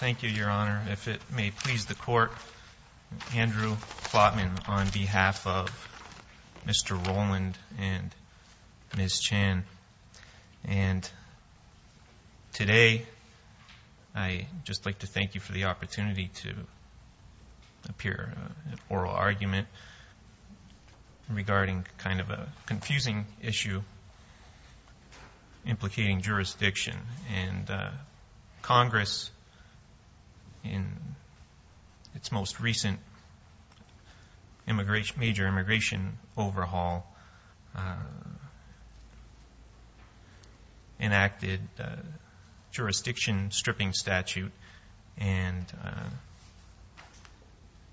Thank you, Your Honor. If it may please the Court, Andrew Plotman on behalf of Mr. Roland and Ms. Chan. And today I'd just like to thank you for the opportunity to appear in an oral argument regarding kind of a confusing issue implicating jurisdiction and Congress in its most recent major immigration overhaul enacted jurisdiction stripping statute. And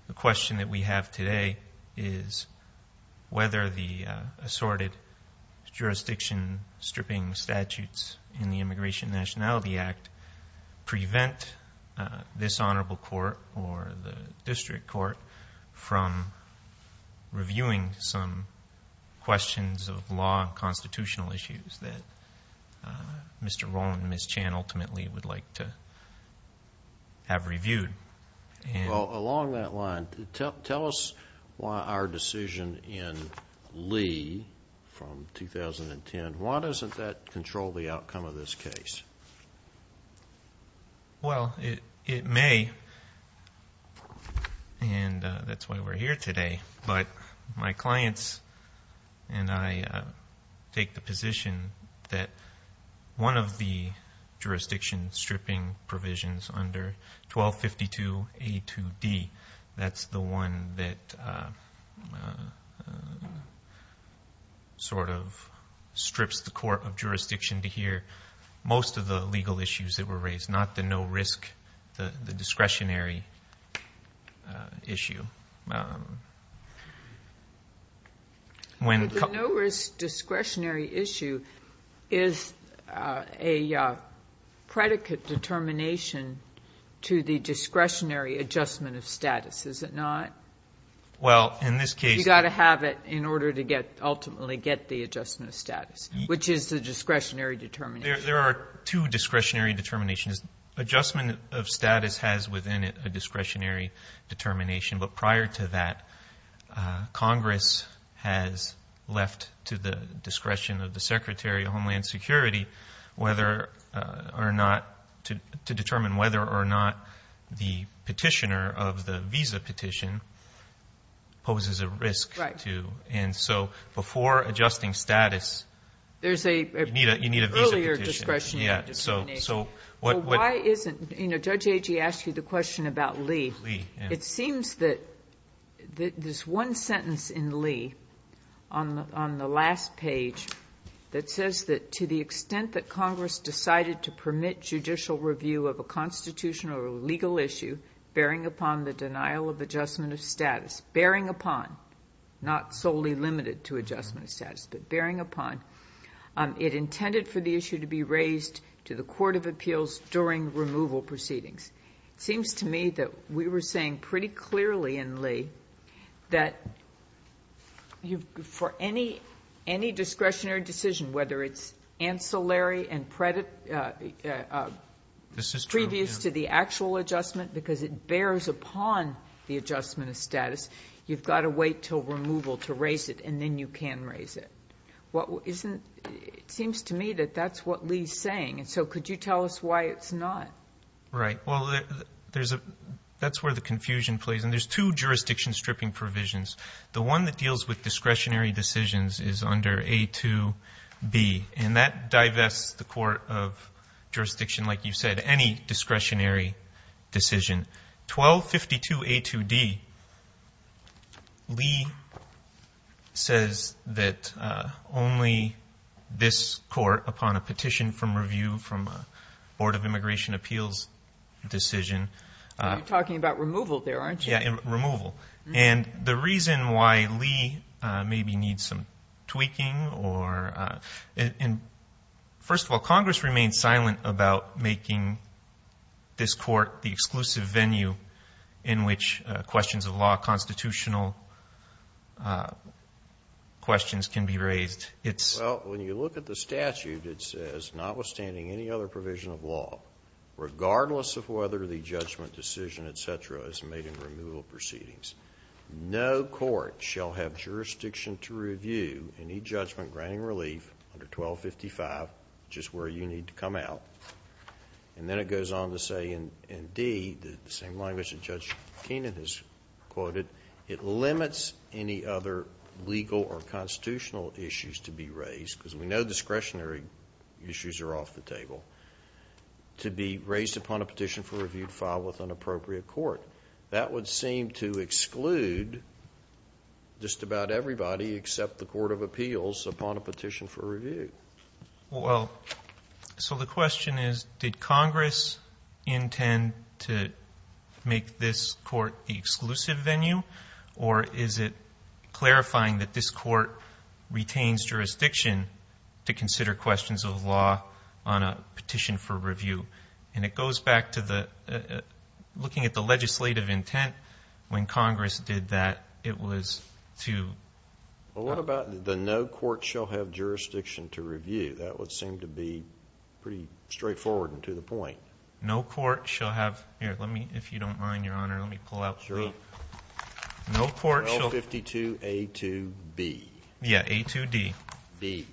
the question that we have today is whether the assorted jurisdiction stripping statutes in the Immigration District Court from reviewing some questions of law and constitutional issues that Mr. Roland and Ms. Chan ultimately would like to have reviewed. Well, along that line, tell us why our decision in Lee from 2010, why doesn't that control the outcome of this case? Well, it may, and that's why we're here today. But my clients and I take the position that one of the jurisdiction stripping provisions under 1252A2D, that's the one that sort of to hear most of the legal issues that were raised, not the no risk, the discretionary issue. The no risk discretionary issue is a predicate determination to the discretionary adjustment of status, is it not? Well, in this case... You've got to have it in order to ultimately get the adjustment of status, which is the discretionary determination. There are two discretionary determinations. Adjustment of status has within it a discretionary determination, but prior to that, Congress has left to the discretion of the Secretary of Homeland Security whether or not, to determine whether or not the petitioner of the visa petition poses a risk to. And so before adjusting status... You need a visa petition. There's an earlier discretionary determination. Yeah, so what... Well, why isn't... Judge Agee asked you the question about Lee. It seems that there's one sentence in Lee on the last page that says that to the extent that Congress decided to permit judicial review of a constitutional or legal issue bearing upon the denial of adjustment of status, bearing upon, not solely limited to adjustment of status, but bearing upon, it intended for the issue to be raised to the Court of Appeals during removal proceedings. It seems to me that we were saying pretty clearly in Lee that for any discretionary decision, whether it's ancillary and previous to the actual adjustment because it bears upon the adjustment of status, you've got to wait till removal to raise it, and then you can raise it. It seems to me that that's what Lee's saying, and so could you tell us why it's not? Right. Well, that's where the confusion plays, and there's two jurisdiction stripping provisions. The one that deals with discretionary decisions is under A2B, and that divests the Court of Jurisdiction, like you said, any discretionary decision. In 1252 A2D, Lee says that only this Court, upon a petition from review from a Board of Immigration Appeals decision. You're talking about removal there, aren't you? Yeah, removal. And the reason why Lee maybe needs some tweaking or... First of all, Congress remained silent about making this court the exclusive venue in which questions of law, constitutional questions can be raised. Well, when you look at the statute, it says, notwithstanding any other provision of law, regardless of whether the judgment decision, et cetera, is made in removal proceedings, no court shall have jurisdiction to review any judgment granting relief under 1255, which is where you need to come out. And then it goes on to say in D, the same language that Judge Kenan has quoted, it limits any other legal or constitutional issues to be raised, because we know discretionary issues are off the table, to be raised upon a petition for review filed with an appropriate court. That would seem to exclude just about everybody except the Court of Appeals upon a petition for review. Well, so the question is, did Congress intend to make this court the exclusive venue, or is it clarifying that this court retains jurisdiction to consider questions of law on a petition for review? And it goes back to looking at the legislative intent when Congress did that. It was to... Well, what about the no court shall have jurisdiction to review? That would seem to be pretty straightforward and to the point. No court shall have... Here, let me, if you don't mind, Your Honor, let me pull out B. No court shall... L52A2B. Yeah, A2D. B.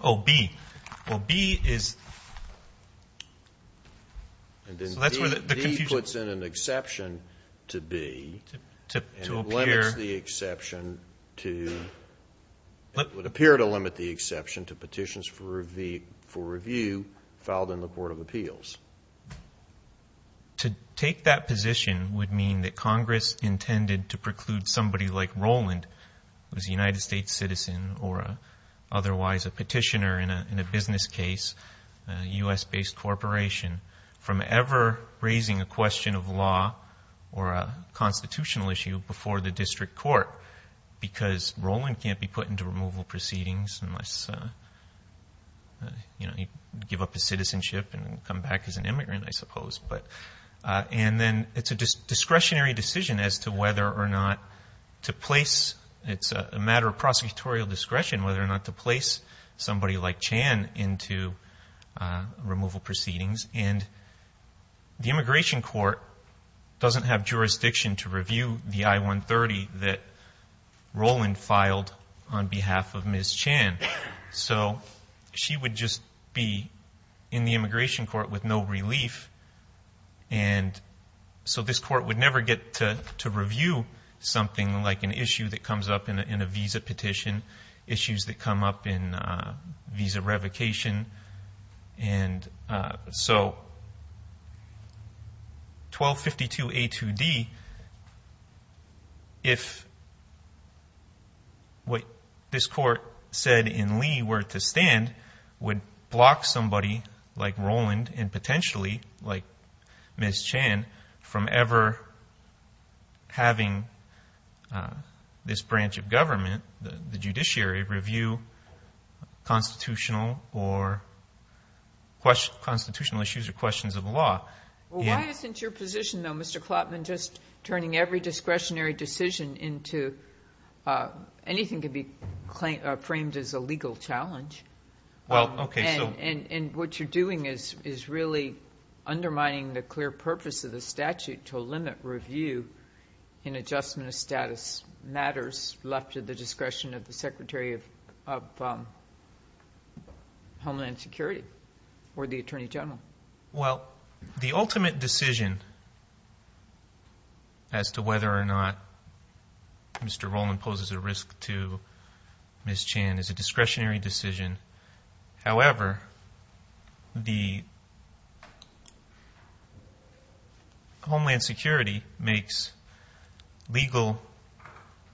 Oh, B. Well, B is... And then B puts in an exception to B. To appear... It would appear to limit the exception to petitions for review filed in the Court of Appeals. To take that position would mean that Congress intended to preclude somebody like Roland, who is a United States citizen or otherwise a petitioner in a business case, a U.S.-based corporation, from ever raising a question of law or a constitutional issue before the case. He can't be put into removal proceedings unless he'd give up his citizenship and come back as an immigrant, I suppose. And then it's a discretionary decision as to whether or not to place... It's a matter of prosecutorial discretion whether or not to place somebody like Chan into removal proceedings. And the immigration court doesn't have jurisdiction to review the I-130 that Roland filed on behalf of Ms. Chan. So she would just be in the immigration court with no relief, and so this court would never get to review something like an issue that comes up in a visa petition, issues that come up in visa revocation. And so 1252a2d, if what this court said in Lee were to stand, would block somebody like Roland and potentially like Ms. Chan from ever having this branch of government, the constitutional or... Constitutional issues or questions of law. Well, why isn't your position, though, Mr. Klotman, just turning every discretionary decision into... Anything could be framed as a legal challenge. Well, okay, so... And what you're doing is really undermining the clear purpose of the statute to limit review in adjustment of status matters left to the discretion of the Secretary of Homeland Security or the Attorney General. Well, the ultimate decision as to whether or not Mr. Roland poses a risk to Ms. Chan is a discretionary decision. However, the Homeland Security makes legal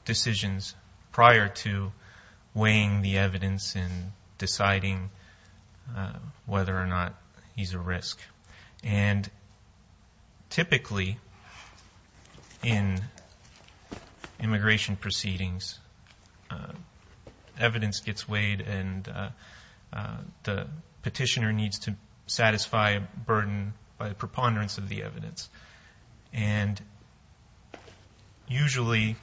decisions prior to weighing the evidence and deciding whether or not he's a risk. And typically in immigration proceedings, evidence gets weighed and the petitioner needs to satisfy a burden by preponderance of the evidence. And usually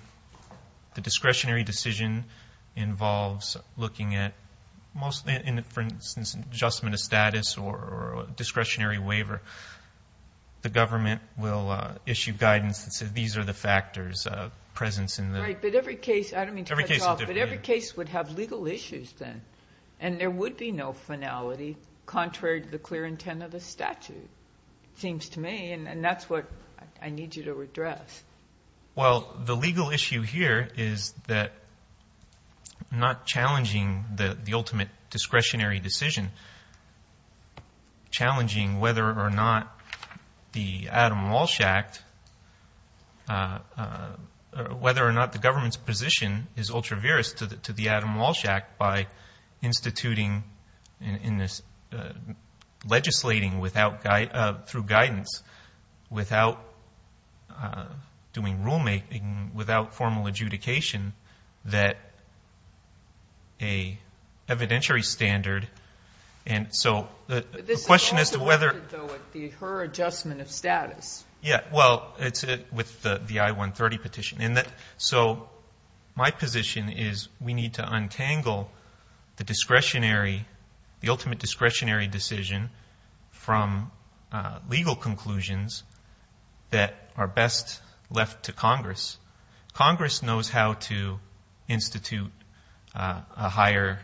the discretionary decision involves looking at... For instance, adjustment of the statutory waiver. The government will issue guidance that says, these are the factors of presence in the... Right, but every case... I don't mean to cut you off, but every case would have legal issues then. And there would be no finality contrary to the clear intent of the statute, it seems to me. And that's what I need you to address. Well, the legal issue here is that not challenging the ultimate discretionary decision, challenging whether or not the Adam Walsh Act... Whether or not the government's position is ultra-virus to the Adam Walsh Act by instituting and legislating through guidance without doing rule-making, without formal adjudication, that a evidentiary standard... This is also... The question as to whether... Her adjustment of status. Yeah. Well, it's with the I-130 petition. So my position is we need to untangle the discretionary, the ultimate discretionary decision from legal conclusions that are best left to Congress. Congress knows how to institute a higher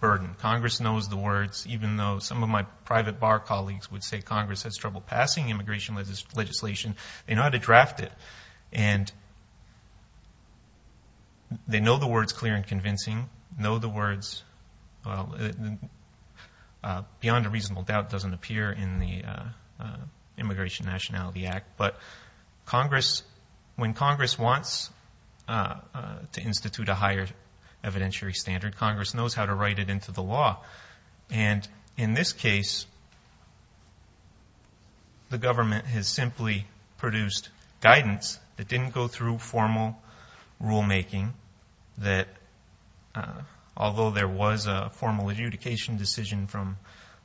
burden. Congress knows the words, even though some of my private bar colleagues would say Congress has trouble passing immigration legislation, they know how to draft it. And they know the words clear and convincing, know the words... Beyond a reasonable doubt doesn't appear in the Immigration Nationality Act. But when Congress wants to institute a higher evidentiary standard, Congress knows how to enforce the law. And in this case, the government has simply produced guidance that didn't go through formal rule-making, that although there was a formal adjudication decision from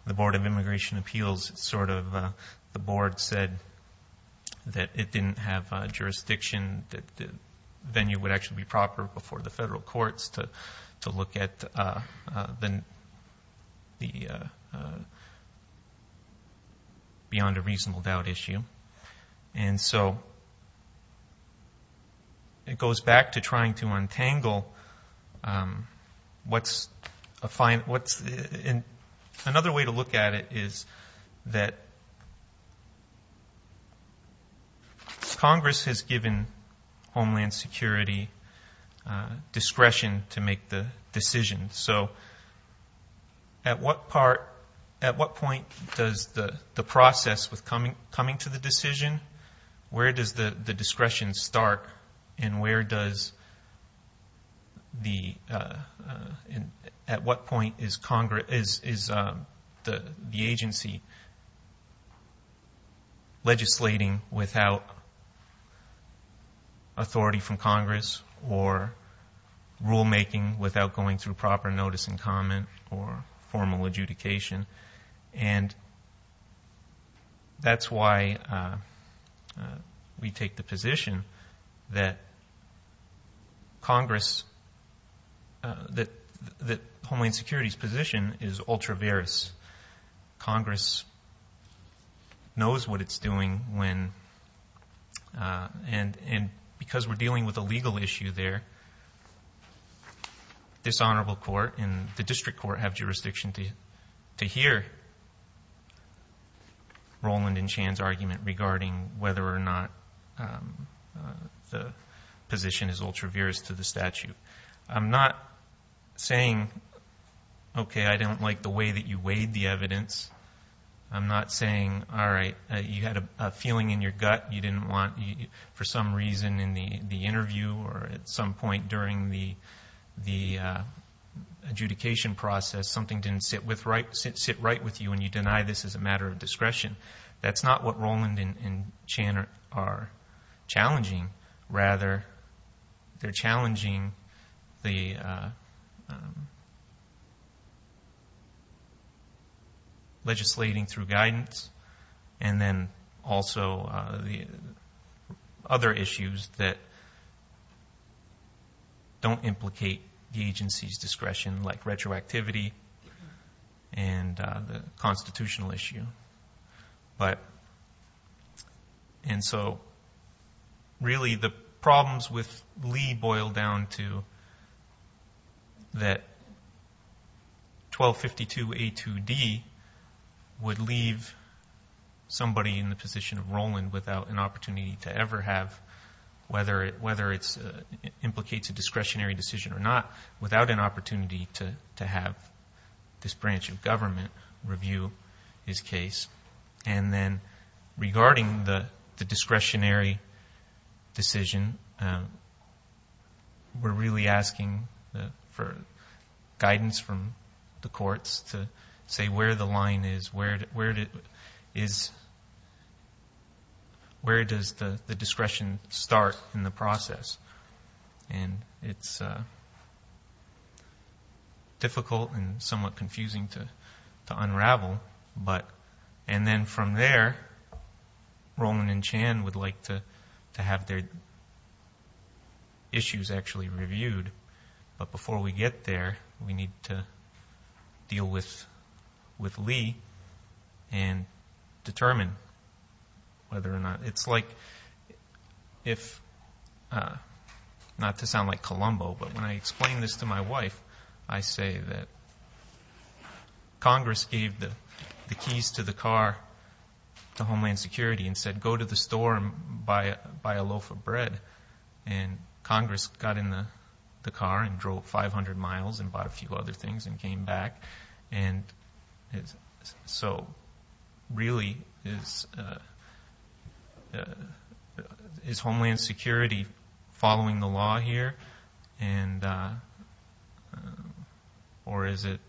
the Board of Immigration Appeals, sort of the board said that it didn't have jurisdiction, that the venue would actually be proper before the federal courts to look at the beyond a reasonable doubt issue. And so it goes back to trying to untangle what's... Another way to look at it is that Congress has given Homeland Security discretion to make the decision. So at what point does the process with coming to the decision, where does the discretion without authority from Congress or rule-making without going through proper notice and comment or formal adjudication? And that's why we take the position that Congress... That Homeland Security's position is ultra-various. Because Congress knows what it's doing when... And because we're dealing with a legal issue there, this honorable court and the district court have jurisdiction to hear Roland and Chan's argument regarding whether or not the position is ultra-various to the statute. I'm not saying, okay, I don't like the way that you weighed the evidence. I'm not saying, all right, you had a feeling in your gut, you didn't want, for some reason in the interview or at some point during the adjudication process, something didn't sit right with you and you deny this as a matter of discretion. That's not what Roland and Chan are challenging. Rather, they're challenging the legislating through guidance and then also the other issues that don't implicate the agency's discretion, like retroactivity and the constitutional issue. And so, really, the problems with Lee boil down to that 1252A2D would leave somebody in the position of Roland without an opportunity to ever have, whether it implicates a discretionary decision or not, without an opportunity to have this branch of government review his case. And then, regarding the discretionary decision, we're really asking for guidance from the Where does the discretion start in the process? And it's difficult and somewhat confusing to unravel. And then from there, Roland and Chan would like to have their issues actually reviewed. But before we get there, we need to deal with Lee and determine whether or not it's like if, not to sound like Columbo, but when I explain this to my wife, I say that Congress gave the keys to the car to Homeland Security and said, go to the store and buy a loaf of the car and drove 500 miles and bought a few other things and came back. And so, really, is Homeland Security following the law here? Or is it,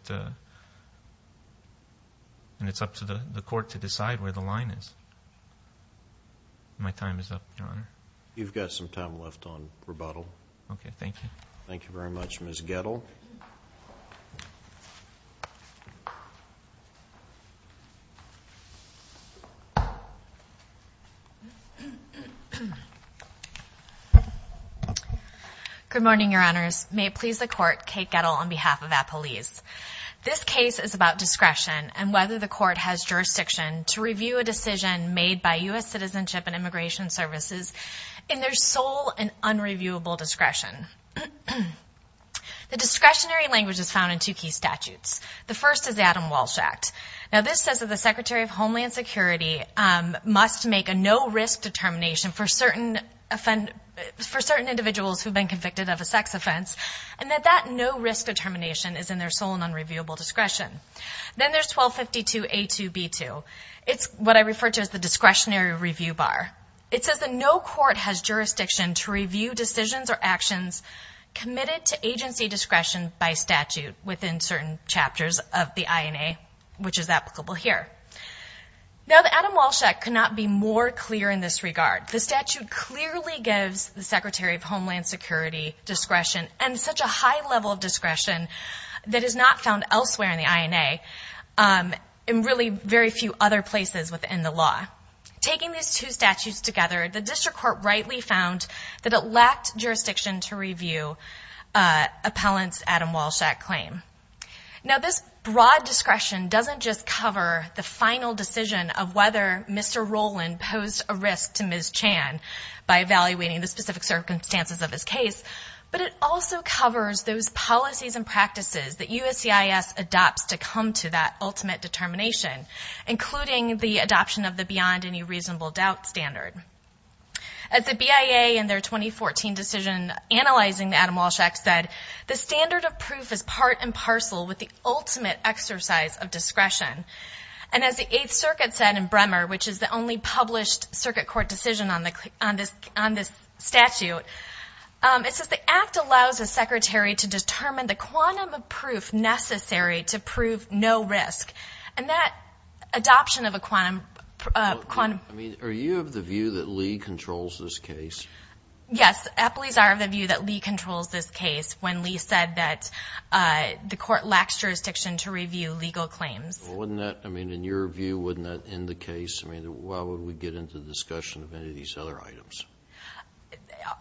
and it's up to the court to decide where the line is. My time is up, Your Honor. You've got some time left on rebuttal. Okay. Thank you. Thank you very much, Ms. Gettle. Good morning, Your Honors. May it please the court, Kate Gettle on behalf of Appalese. This case is about discretion and whether the court has jurisdiction to review a decision made by U.S. Citizenship and Immigration Services in their sole and unreviewable discretion. The discretionary language is found in two key statutes. The first is Adam Walsh Act. Now, this says that the Secretary of Homeland Security must make a no-risk determination for certain individuals who've been convicted of a sex offense and that that no-risk determination is in their sole and unreviewable discretion. Then there's 1252A2B2. It's what I refer to as the discretionary review bar. It says that no court has jurisdiction to review decisions or actions committed to agency discretion by statute within certain chapters of the INA, which is applicable here. Now, the Adam Walsh Act could not be more clear in this regard. The statute clearly gives the Secretary of Homeland Security discretion and such a high level of discretion that is not found elsewhere in the INA and really very few other places within the law. Taking these two statutes together, the district court rightly found that it lacked jurisdiction to review appellant's Adam Walsh Act claim. Now, this broad discretion doesn't just cover the final decision of whether Mr. Roland posed a risk to Ms. Chan by evaluating the specific circumstances of his case, but it also covers those policies and practices that USCIS adopts to come to that ultimate determination, including the adoption of the beyond any reasonable doubt standard. As the BIA in their 2014 decision analyzing the Adam Walsh Act said, the standard of proof is part and parcel with the ultimate exercise of discretion. And as the Eighth Circuit said in Bremer, which is the only published circuit court decision on this statute, it says the act allows a secretary to determine the quantum of proof necessary to prove no risk. And that adoption of a quantum of proof. I mean, are you of the view that Lee controls this case? Yes. Appellees are of the view that Lee controls this case when Lee said that the court lacks jurisdiction to review legal claims. Well, wouldn't that, I mean, in your view, wouldn't that end the case? I mean, why would we get into the discussion of any of these other items?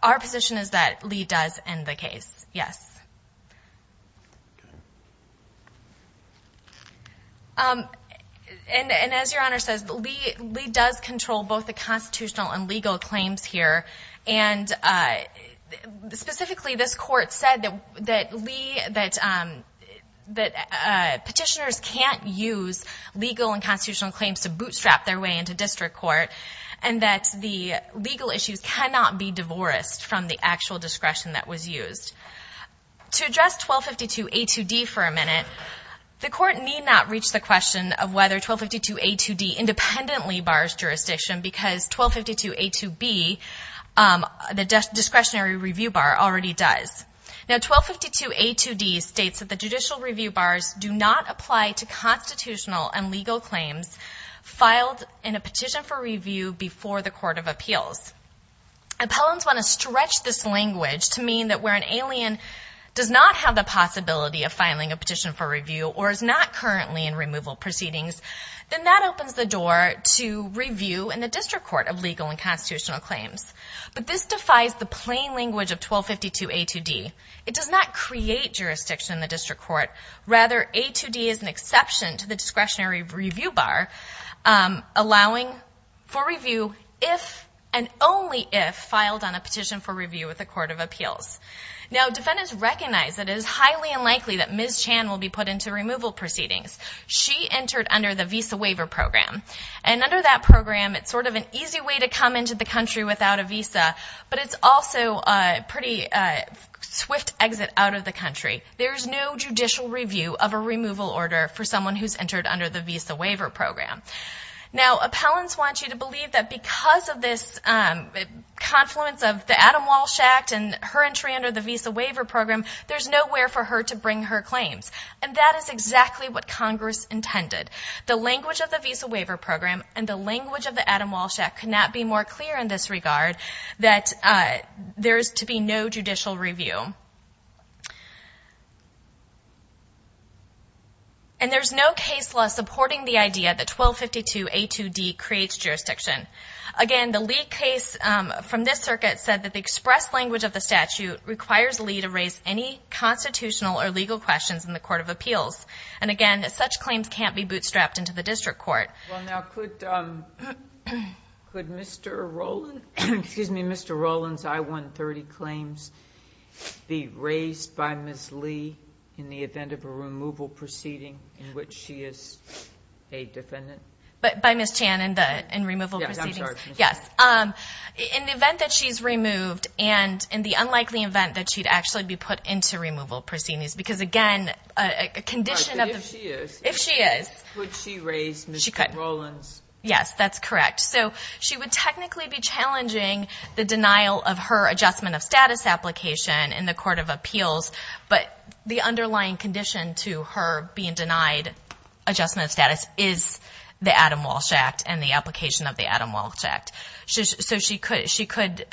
Our position is that Lee does end the case, yes. And as Your Honor says, Lee does control both the constitutional and legal claims here. And specifically, this court said that Lee, that petitioners can't use legal and constitutional claims to bootstrap their way into district court. And that the legal issues cannot be divorced from the actual discretion that was used. To address 1252A2D for a minute, the court need not reach the question of whether 1252A2D independently bars jurisdiction because 1252A2B, the discretionary review bar, already does. Now, 1252A2D states that the judicial review bars do not apply to constitutional and legal claims filed in a petition for review before the court of appeals. Appellants want to stretch this language to mean that where an alien does not have the possibility of filing a petition for review or is not currently in removal proceedings, then that opens the door to review in the district court of legal and constitutional claims. But this defies the plain language of 1252A2D. It does not create jurisdiction in the district court. Rather, A2D is an exception to the discretionary review bar, allowing for review if and only if filed on a petition for review with the court of appeals. Now, defendants recognize that it is highly unlikely that Ms. Chan will be put into removal proceedings. She entered under the Visa Waiver Program. And under that program, it's sort of an easy way to come into the country without a visa, but it's also a pretty swift exit out of the country. There is no judicial review of a removal order for someone who's entered under the Visa Waiver Program. Now, appellants want you to believe that because of this confluence of the Adam Walsh Act and her entry under the Visa Waiver Program, there's nowhere for her to bring her claims. And that is exactly what Congress intended. The language of the Visa Waiver Program and the language of the Adam Walsh Act could not be more clear in this regard that there is to be no judicial review. And there's no case law supporting the idea that 1252A2D creates jurisdiction. Again, the Lee case from this circuit said that the express language of the statute requires Lee to raise any constitutional or legal questions in the court of appeals. And again, such claims can't be bootstrapped into the district court. Well, now, could Mr. Rowland's I-130 claims be raised by Ms. Lee in the event of a removal proceeding in which she is a defendant? But by Ms. Chan in the removal proceedings? Yes. In the event that she's removed and in the unlikely event that she'd actually be put into removal proceedings, because again, a condition of the... Right, but if she is... If she is... Could she raise Mr. Rowland's... She could. Yes, that's correct. So she would technically be challenging the denial of her Adjustment of Status application in the court of appeals, but the underlying condition to her being denied Adjustment of Status is the Adam Walsh Act and the application of the Adam Walsh Act. So she could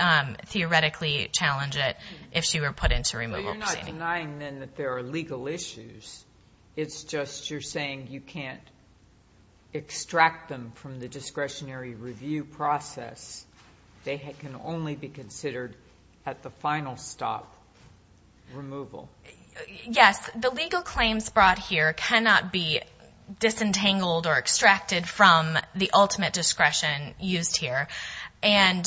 theoretically challenge it if she were put into removal proceedings. So you're denying then that there are legal issues. It's just you're saying you can't extract them from the discretionary review process. They can only be considered at the final stop, removal. Yes. The legal claims brought here cannot be disentangled or extracted from the ultimate discretion used here. And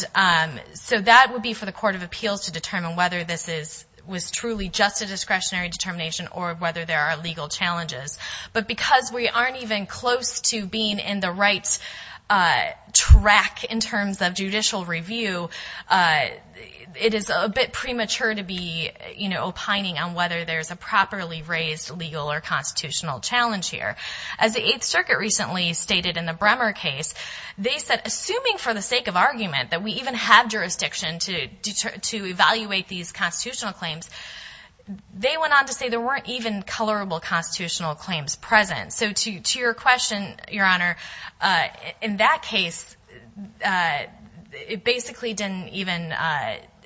so that would be for the court of appeals to determine whether this was truly just a discretionary determination or whether there are legal challenges. But because we aren't even close to being in the right track in terms of judicial review, it is a bit premature to be opining on whether there's a properly raised legal or constitutional challenge here. As the 8th Circuit recently stated in the Bremer case, they said, assuming for the sake of argument that we even have jurisdiction to evaluate these constitutional claims, they went on to say there weren't even colorable constitutional claims present. So to your question, Your Honor, in that case, it basically didn't even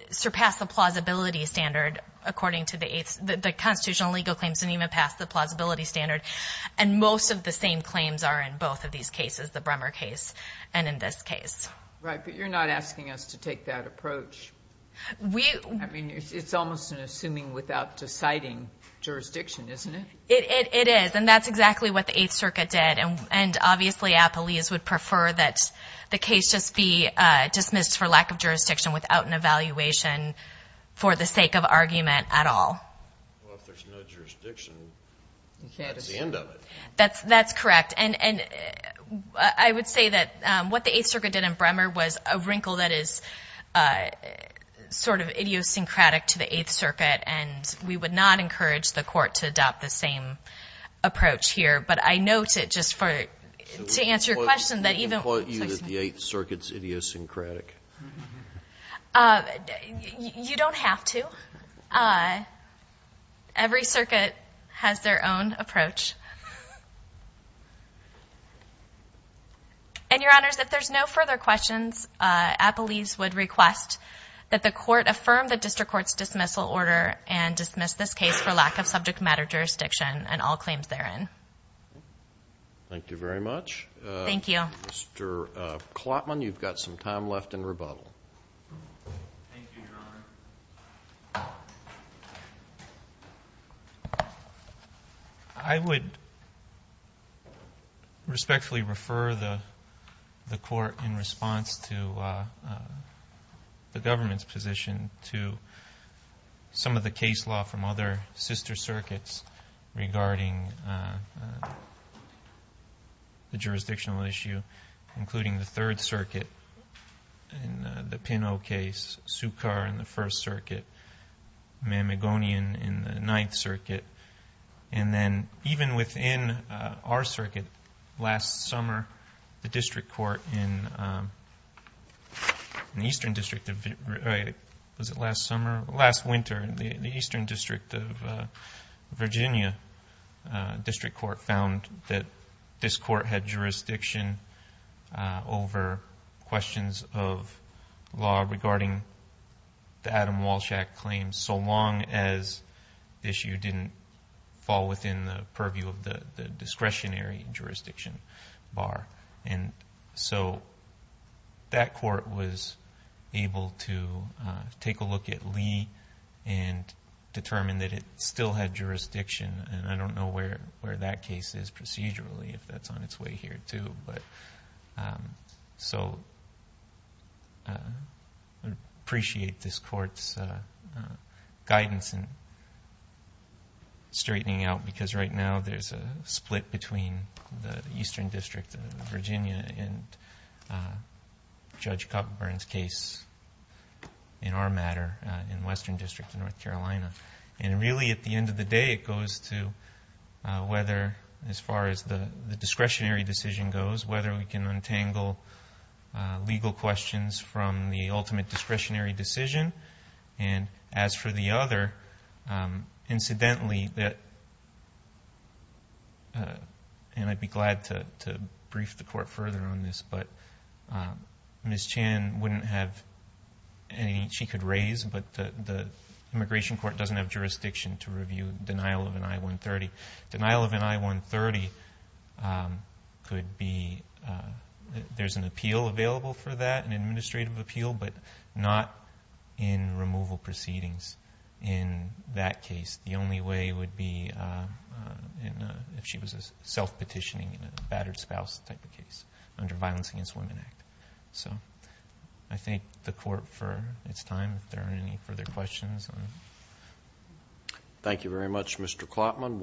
surpass the plausibility standard according to the 8th, the constitutional legal claims didn't even pass the plausibility standard. And most of the same claims are in both of these cases, the Bremer case and in this case. Right. But you're not asking us to take that approach. It's almost an assuming without deciding jurisdiction, isn't it? It is. And that's exactly what the 8th Circuit did. And obviously, appellees would prefer that the case just be dismissed for lack of jurisdiction without an evaluation for the sake of argument at all. Well, if there's no jurisdiction, that's the end of it. That's correct. And I would say that what the 8th Circuit did in Bremer was a wrinkle that is sort of idiosyncratic to the 8th Circuit. And we would not encourage the Court to adopt the same approach here. But I note it just for, to answer your question, that even- Can we quote you that the 8th Circuit's idiosyncratic? You don't have to. Every circuit has their own approach. And Your Honors, if there's no further questions, appellees would request that the Court affirm the District Court's dismissal order and dismiss this case for lack of subject matter jurisdiction and all claims therein. Thank you very much. Thank you. Mr. Klotman, you've got some time left in rebuttal. Thank you, Your Honor. I would respectfully refer the Court in response to the government's position to some of the the third circuit in the Pinot case, Sukar in the 1st Circuit, Mamegonian in the 9th Circuit. And then even within our circuit, last summer, the District Court in the Eastern District of... was it last summer? Last winter, the Eastern District of Virginia District Court found that this Court had jurisdiction over questions of law regarding the Adam Walshack claims so long as the issue didn't fall within the purview of the discretionary jurisdiction bar. And so that Court was able to take a look at Lee and determine that it still had jurisdiction. And I don't know where that case is procedurally, if that's on its way here too. So I appreciate this Court's guidance in straightening out because right now there's a split between the Eastern District of Virginia and Judge Kupferberg's case in our matter in Western District of North Carolina. And really at the end of the day, it goes to whether, as far as the discretionary decision goes, whether we can untangle legal questions from the ultimate discretionary decision. And as for the other, incidentally, and I'd be glad to brief the Court further on this, but Ms. Chan wouldn't have anything she could raise, but the Immigration Court doesn't have jurisdiction to review denial of an I-130. Denial of an I-130 could be... there's an appeal available for that, an administrative appeal, but not in removal proceedings in that case. The only way would be if she was self-petitioning in a battered spouse type of case under violence against women act. So I thank the Court for its time, if there are any further questions. Thank you very much, Mr. Klopman.